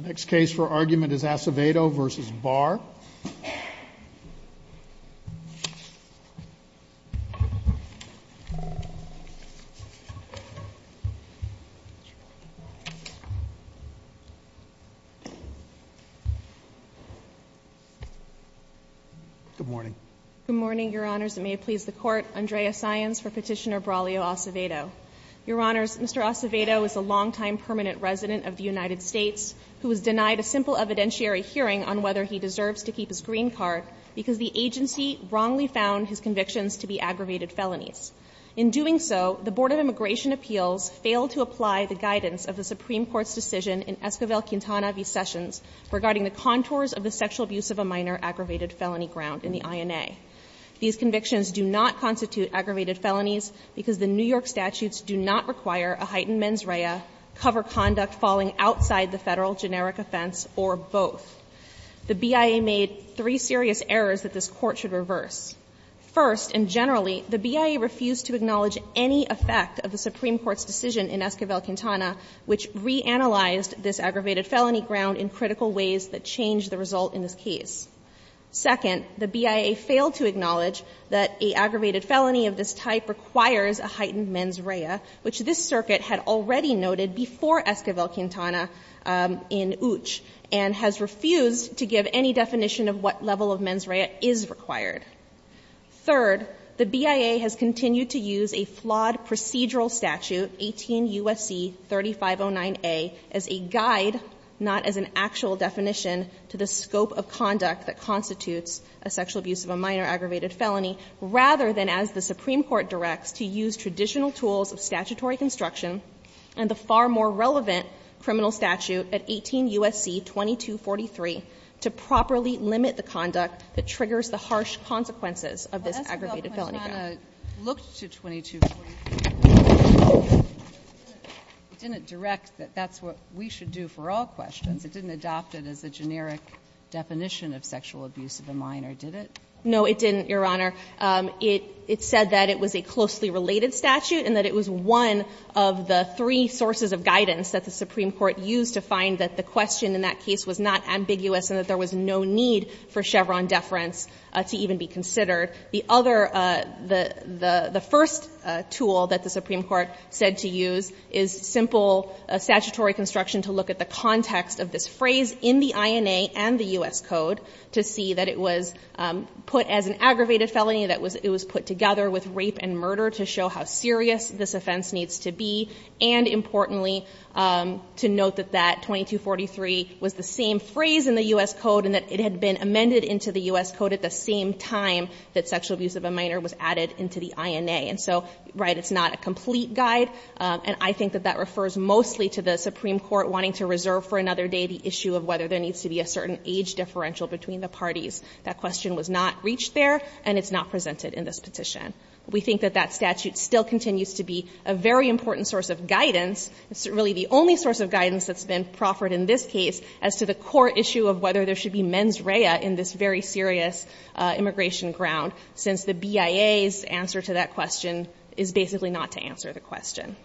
The next case for argument is Acevedo v. Barr. Good morning. Good morning, Your Honors. It may please the Court. Andrea Science for Petitioner Braulio Acevedo. Your Honors, Mr. Acevedo is a longtime permanent resident of the United States who was denied a simple evidentiary hearing on whether he deserves to keep his green card because the agency wrongly found his convictions to be aggravated felonies. In doing so, the Board of Immigration Appeals failed to apply the guidance of the Supreme Court's decision in Esquivel-Quintana v. Sessions regarding the contours of the sexual abuse of a minor aggravated felony ground in the INA. These convictions do not constitute aggravated felonies because the New York statutes do not require a heightened mens rea, cover conduct falling outside the Federal generic offense, or both. The BIA made three serious errors that this Court should reverse. First, and generally, the BIA refused to acknowledge any effect of the Supreme Court's decision in Esquivel-Quintana, which reanalyzed this aggravated felony ground in critical ways that changed the result in this case. Second, the BIA failed to acknowledge that an aggravated felony of this type requires a heightened mens rea, which this circuit had already noted before Esquivel-Quintana in UCH and has refused to give any definition of what level of mens rea is required. Third, the BIA has continued to use a flawed procedural statute, 18 U.S.C. 3509a, as a guide, not as an actual definition to the scope of conduct that constitutes a sexual abuse of a minor aggravated felony, rather than as the Supreme Court directs, to use traditional tools of statutory construction and the far more relevant criminal statute at 18 U.S.C. 2243 to properly limit the conduct that triggers the harsh consequences of this aggravated felony ground. But Esquivel-Quintana looked to 2243. It didn't direct that that's what we should do for all questions. It didn't adopt it as a generic definition of sexual abuse of a minor, did it? No, it didn't, Your Honor. It said that it was a closely related statute and that it was one of the three sources of guidance that the Supreme Court used to find that the question in that case was not ambiguous and that there was no need for Chevron deference to even be considered. The other, the first tool that the Supreme Court said to use is simple statutory construction to look at the context of this phrase in the INA and the U.S. Code to see that it was put as an aggravated felony, that it was put together with rape and murder to show how serious this offense needs to be, and importantly, to note that that 2243 was the same phrase in the U.S. Code and that it had been that sexual abuse of a minor was added into the INA. And so, right, it's not a complete guide, and I think that that refers mostly to the Supreme Court wanting to reserve for another day the issue of whether there needs to be a certain age differential between the parties. That question was not reached there, and it's not presented in this petition. We think that that statute still continues to be a very important source of guidance. It's really the only source of guidance that's been proffered in this case as to the BIA's answer to that question is basically not to answer the question.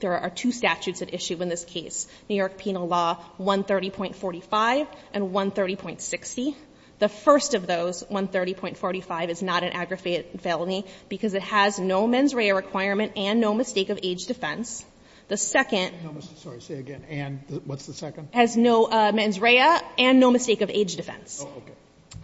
There are two statutes at issue in this case. New York Penal Law 130.45 and 130.60. The first of those, 130.45, is not an aggravated felony because it has no mens rea requirement and no mistake of age defense. The second ---- Sotomayor, I'm sorry. Say it again. And what's the second? It has no mens rea and no mistake of age defense. Oh, okay.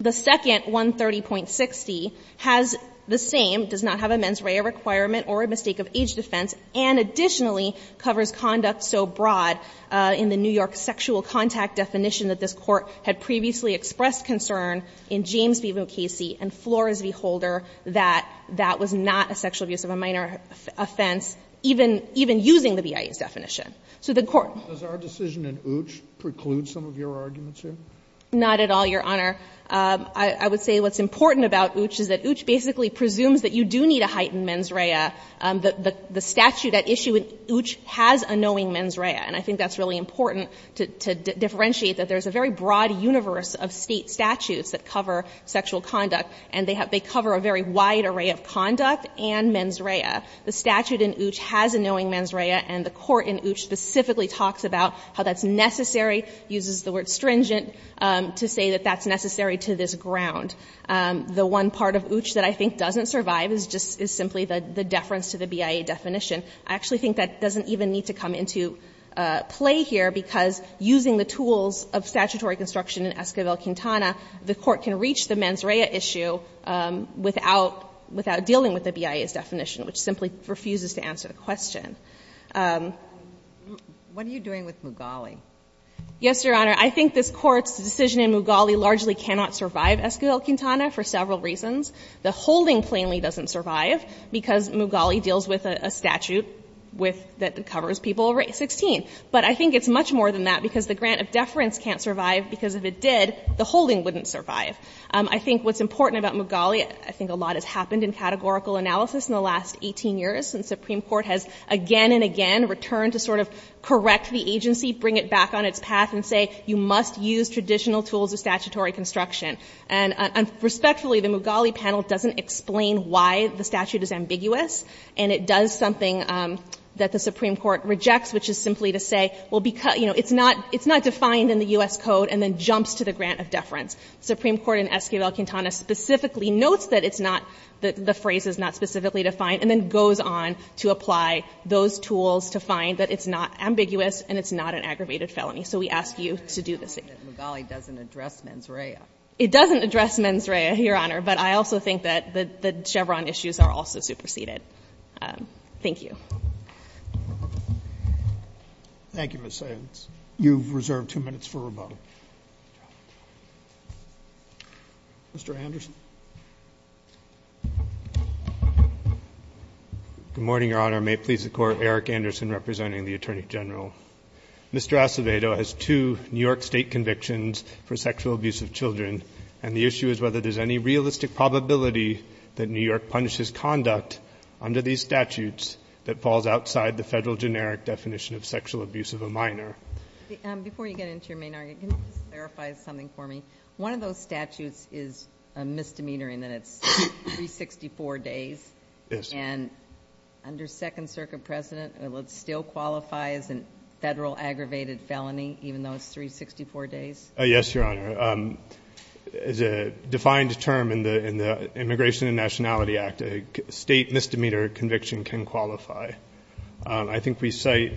The second, 130.60, has the same, does not have a mens rea requirement or a mistake of age defense, and additionally covers conduct so broad in the New York sexual contact definition that this Court had previously expressed concern in James v. O'Casey and Flores v. Holder that that was not a sexual abuse of a minor offense even using the BIA's definition. So the Court ---- Does our decision in Uch preclude some of your arguments here? Not at all, Your Honor. I would say what's important about Uch is that Uch basically presumes that you do need a heightened mens rea. The statute at issue in Uch has a knowing mens rea, and I think that's really important to differentiate that there's a very broad universe of State statutes that cover sexual conduct, and they cover a very wide array of conduct and mens rea. The statute in Uch has a knowing mens rea, and the Court in Uch specifically talks about how that's necessary, uses the word stringent to say that that's necessary to this ground. The one part of Uch that I think doesn't survive is just simply the deference to the BIA definition. I actually think that doesn't even need to come into play here, because using the tools of statutory construction in Esquivel-Quintana, the Court can reach the mens rea issue without dealing with the BIA's definition, which simply refuses to answer the question. Sotomayor, what are you doing with Mugali? Yes, Your Honor. I think this Court's decision in Mugali largely cannot survive Esquivel-Quintana for several reasons. The holding plainly doesn't survive because Mugali deals with a statute that covers people over age 16. But I think it's much more than that, because the grant of deference can't survive because if it did, the holding wouldn't survive. I think what's important about Mugali, I think a lot has happened in categorical analysis in the last 18 years, and the Supreme Court has again and again returned to sort of correct the agency, bring it back on its path, and say, you must use traditional tools of statutory construction. And respectfully, the Mugali panel doesn't explain why the statute is ambiguous, and it does something that the Supreme Court rejects, which is simply to say, well, it's not defined in the U.S. Code, and then jumps to the grant of deference. The Supreme Court in Esquivel-Quintana specifically notes that it's not the phrase is not specifically defined, and then goes on to apply those tools to find that it's not ambiguous, and it's not an aggravated felony. So we ask you to do the same. The Mugali doesn't address mens rea. It doesn't address mens rea, Your Honor, but I also think that the Chevron issues are also superseded. Thank you. Thank you, Ms. Sanders. You've reserved two minutes for rebuttal. Mr. Anderson. Good morning, Your Honor. May it please the Court, Eric Anderson representing the Attorney General. Mr. Acevedo has two New York State convictions for sexual abuse of children, and the issue is whether there's any realistic probability that New York punishes conduct under these statutes that falls outside the Federal generic definition of sexual abuse of a minor. Before you get into your main argument, can you just clarify something for me? One of those statutes is a misdemeanor in that it's 364 days. Yes. And under Second Circuit precedent, will it still qualify as a Federal aggravated felony even though it's 364 days? Yes, Your Honor. As a defined term in the Immigration and Nationality Act, a State misdemeanor conviction can qualify. I think we cite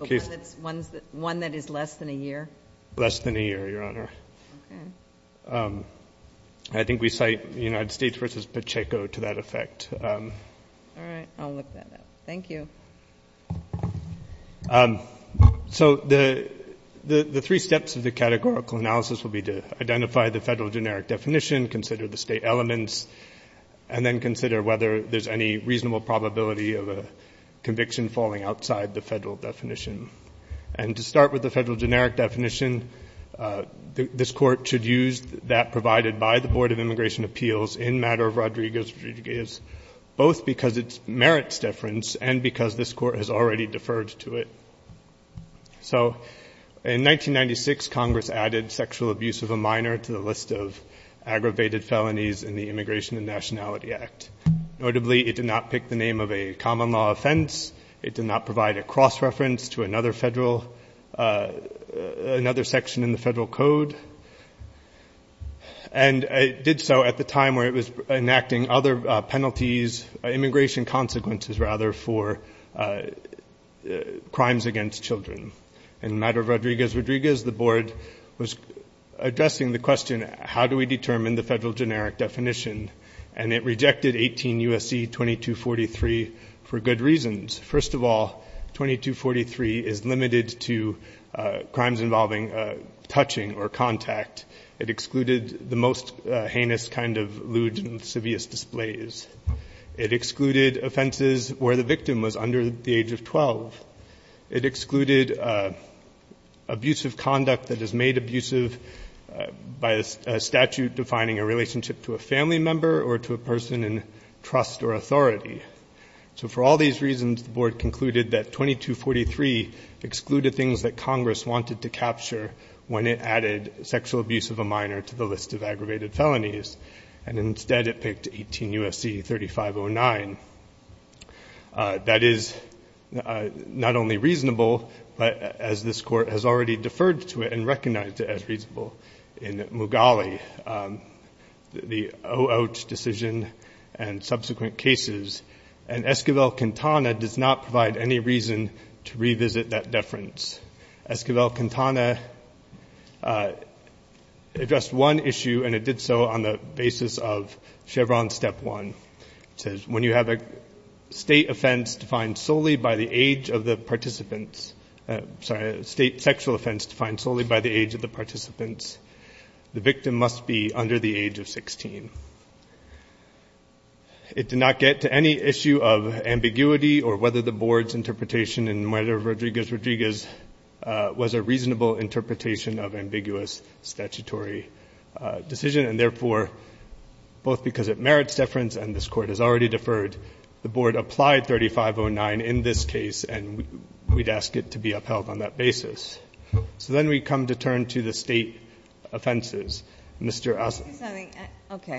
a case that's one that is less than a year. Less than a year, Your Honor. Okay. I think we cite United States v. Pacheco to that effect. All right. I'll look that up. Thank you. So the three steps of the categorical analysis will be to identify the Federal generic definition, consider the State elements, and then consider whether there's any reasonable probability of a conviction falling outside the Federal definition. And to start with the Federal generic definition, this Court should use that provided by the Board of Immigration Appeals in matter of Rodriguez-Rodriguez, both because it merits deference and because this Court has already deferred to it. So in 1996, Congress added sexual abuse of a minor to the list of aggravated felonies in the Immigration and Nationality Act. Notably, it did not pick the name of a common law offense. It did not provide a cross-reference to another section in the Federal Code. And it did so at the time where it was enacting other penalties, immigration consequences, rather, for crimes against children. In matter of Rodriguez-Rodriguez, the Board was addressing the question, how do we determine the Federal generic definition? And it rejected 18 U.S.C. 2243 for good reasons. First of all, 2243 is limited to crimes involving touching or contact. It excluded the most heinous kind of lewd and sevious displays. It excluded offenses where the victim was under the age of 12. It excluded abusive conduct that is made abusive by a statute defining a relationship to a family member or to a person in trust or authority. So for all these reasons, the Board concluded that 2243 excluded things that Congress wanted to capture when it added sexual abuse of a minor to the list of aggravated felonies. And instead, it picked 18 U.S.C. 3509. That is not only reasonable, but as this Court has already deferred to it and recognized it as reasonable in Mughali, the O-Ouch decision and subsequent cases. And Esquivel-Quintana does not provide any reason to revisit that deference. Esquivel-Quintana addressed one issue, and it did so on the basis of Chevron Step 1. It says, when you have a state offense defined solely by the age of the participants, sorry, a state sexual offense defined solely by the age of the participants, the victim must be under the age of 16. It did not get to any issue of ambiguity or whether the Board's interpretation in murder of Rodriguez-Rodriguez was a reasonable interpretation of ambiguous statutory decision, and therefore, both because it merits deference and this Court has already deferred, the Board applied 3509 in this case, and we'd ask it to be upheld on that basis. So then we come to turn to the state offenses. Mr. Osler. Okay.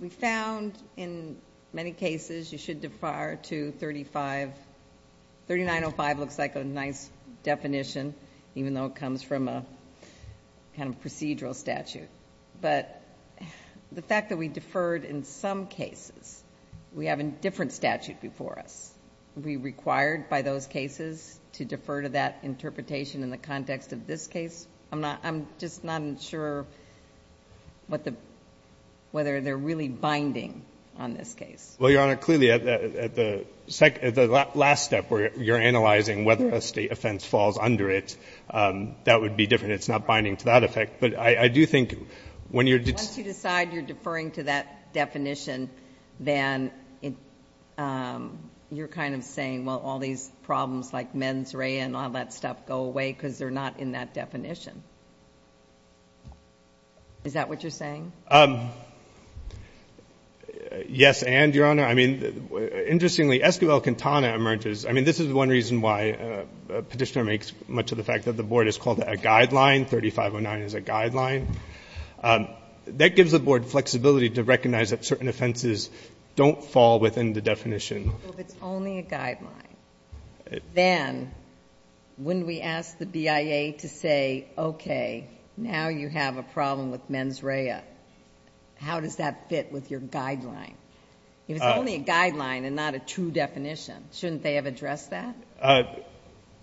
We found in many cases you should defer to 3905 looks like a nice definition, even though it comes from a kind of procedural statute. But the fact that we deferred in some cases, we have a different statute before us. Are we required by those cases to defer to that interpretation in the context of this case? I'm just not sure whether they're really binding on this case. Well, Your Honor, clearly at the last step where you're analyzing whether a state offense falls under it, that would be different. It's not binding to that effect. But I do think when you're deferring to that definition, then you're kind of saying, well, all these problems like mens rea and all that stuff go away because they're not in that definition. Is that what you're saying? Yes, and, Your Honor, I mean, interestingly, Esquivel-Quintana emerges. I mean, this is one reason why Petitioner makes much of the fact that the Board has called it a guideline, 3509 is a guideline. That gives the Board flexibility to recognize that certain offenses don't fall within the definition. Well, if it's only a guideline, then wouldn't we ask the BIA to say, okay, now you have a problem with mens rea. How does that fit with your guideline? If it's only a guideline and not a true definition, shouldn't they have addressed that?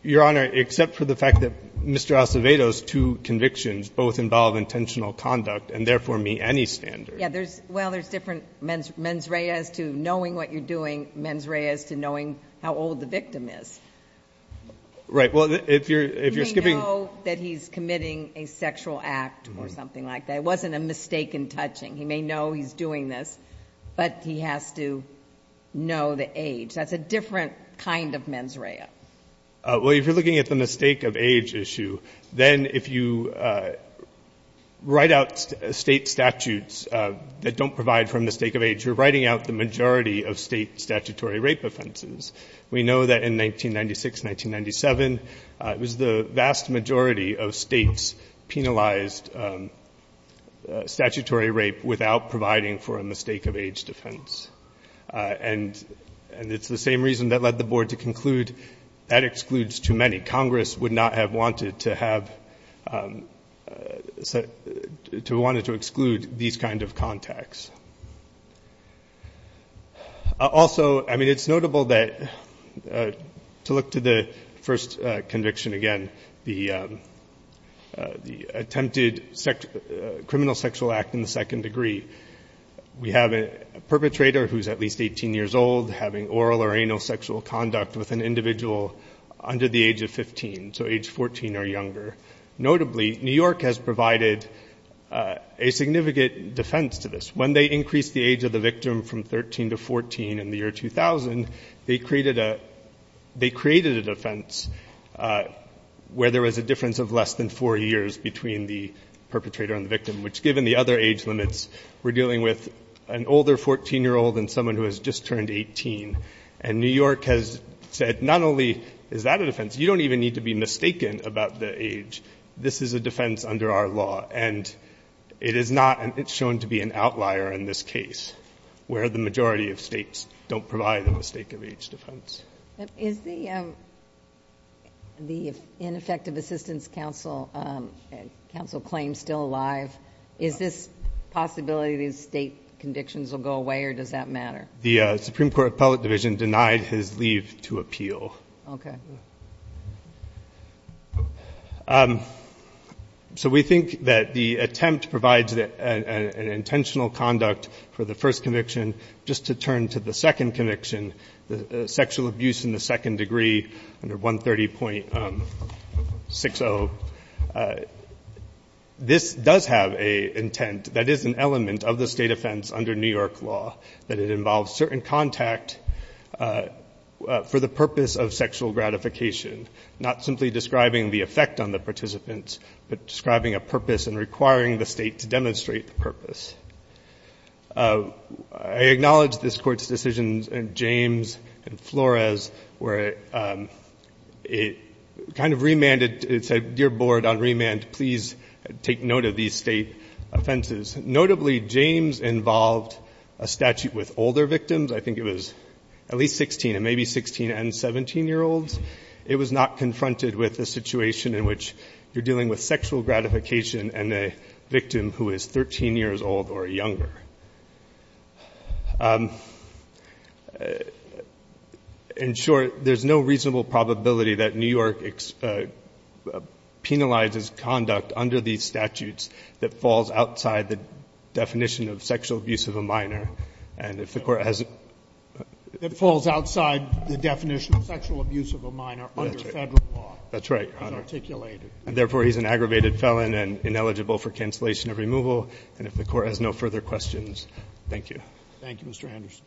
Your Honor, except for the fact that Mr. Acevedo's two convictions both involve intentional conduct and therefore meet any standard. Yeah. Well, there's different mens rea as to knowing what you're doing, mens rea as to knowing how old the victim is. Right. Well, if you're skipping. He may know that he's committing a sexual act or something like that. It wasn't a mistaken touching. He may know he's doing this, but he has to know the age. That's a different kind of mens rea. Well, if you're looking at the mistake of age issue, then if you write out state statutes that don't provide for a mistake of age, you're writing out the majority of state statutory rape offenses. We know that in 1996, 1997, it was the vast majority of states penalized statutory rape without providing for a mistake of age defense. And it's the same reason that led the board to conclude that excludes too many. Congress would not have wanted to exclude these kind of contacts. Also, I mean, it's notable that to look to the first conviction again, the attempted criminal sexual act in the perpetrator, who's at least 18 years old, having oral or anal sexual conduct with an individual under the age of 15. So age 14 or younger. Notably, New York has provided a significant defense to this. When they increased the age of the victim from 13 to 14 in the year 2000, they created a defense where there was a difference of less than four years between the perpetrator and the victim, which given the other age of the perpetrator is a year older than someone who has just turned 18. And New York has said, not only is that a defense, you don't even need to be mistaken about the age. This is a defense under our law. And it is not, it's shown to be an outlier in this case, where the majority of states don't provide a mistake of age defense. Is the ineffective assistance counsel claim still alive? Is this possibility these state convictions will go away or does that matter? The Supreme Court Appellate Division denied his leave to appeal. Okay. So we think that the attempt provides an intentional conduct for the first conviction. Just to turn to the second conviction, the sexual abuse in the second degree under 130.60. So this does have a intent that is an element of the state offense under New York law, that it involves certain contact for the purpose of sexual gratification, not simply describing the effect on the participants, but describing a purpose and requiring the state to demonstrate the purpose. I acknowledge this Court's decisions in James and Flores where it kind of remanded, it said, Dear Board, on remand, please take note of these state offenses. Notably, James involved a statute with older victims. I think it was at least 16 and maybe 16 and 17-year-olds. It was not confronted with a situation in which you're dealing with sexual gratification and a victim who is 13 years old or younger. In short, there's no reasonable probability that New York penalizes conduct under these statutes that falls outside the definition of sexual abuse of a minor. And if the Court has a ---- It falls outside the definition of sexual abuse of a minor under Federal law. That's right, Your Honor. As articulated. Therefore, he's an aggravated felon and ineligible for cancellation of removal. And if the Court has no further questions, thank you. Thank you, Mr. Anderson.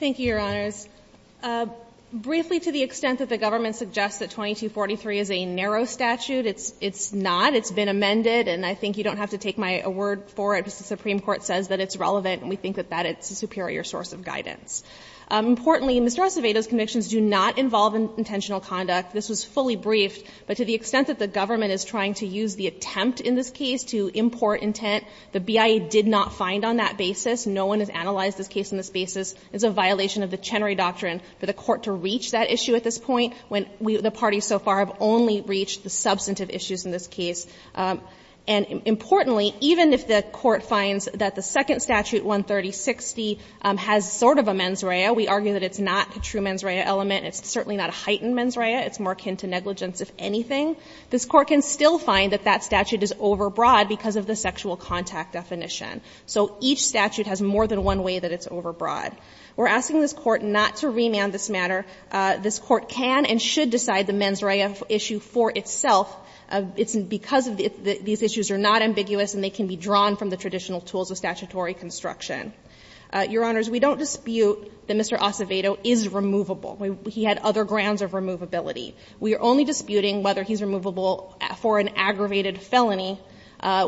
Thank you, Your Honors. Briefly, to the extent that the government suggests that 2243 is a narrow statute, it's not. It's been amended. And I think you don't have to take my word for it, because the Supreme Court says that it's relevant, and we think that that is a superior source of guidance. Importantly, Mr. Acevedo's convictions do not involve intentional conduct. This was fully briefed. But to the extent that the government is trying to use the attempt in this case to import intent, the BIA did not find on that basis. No one has analyzed this case on this basis. It's a violation of the Chenery Doctrine for the Court to reach that issue at this point when the parties so far have only reached the substantive issues in this case. And importantly, even if the Court finds that the second statute, 13060, has sort of a mens rea, we argue that it's not a true mens rea element. It's certainly not a heightened mens rea. It's more akin to negligence, if anything. This Court can still find that that statute is overbroad because of the sexual contact definition. So each statute has more than one way that it's overbroad. We're asking this Court not to remand this matter. This Court can and should decide the mens rea issue for itself. It's because these issues are not ambiguous and they can be drawn from the traditional tools of statutory construction. Your Honors, we don't dispute that Mr. Acevedo is removable. He had other grounds of removability. We are only disputing whether he's removable for an aggravated felony,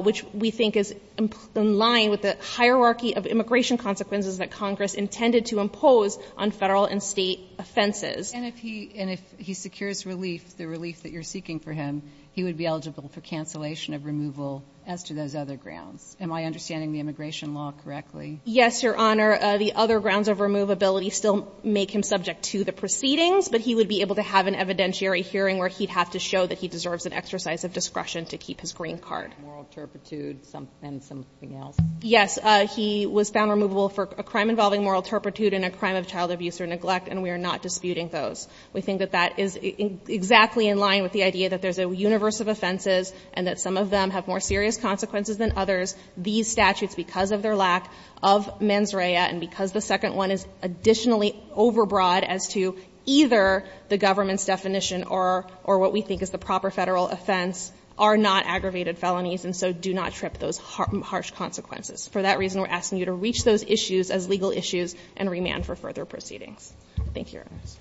which we think is in line with the hierarchy of immigration consequences that Congress intended to impose on Federal and State offenses. And if he secures relief, the relief that you're seeking for him, he would be eligible for cancellation of removal as to those other grounds. Am I understanding the immigration law correctly? Yes, Your Honor. The other grounds of removability still make him subject to the proceedings, but he would be able to have an evidentiary hearing where he'd have to show that he deserves an exercise of discretion to keep his green card. Moral turpitude and something else. Yes. He was found removable for a crime involving moral turpitude and a crime of child abuse or neglect, and we are not disputing those. We think that that is exactly in line with the idea that there's a universe of offenses and that some of them have more serious consequences than others. These statutes, because of their lack of mens rea and because the second one is additionally overbroad as to either the government's definition or what we think is the proper Federal offense, are not aggravated felonies, and so do not trip those harsh consequences. For that reason, we're asking you to reach those issues as legal issues and remand for further proceedings. Thank you, Your Honors.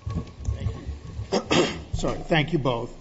Thank you. Thank you both.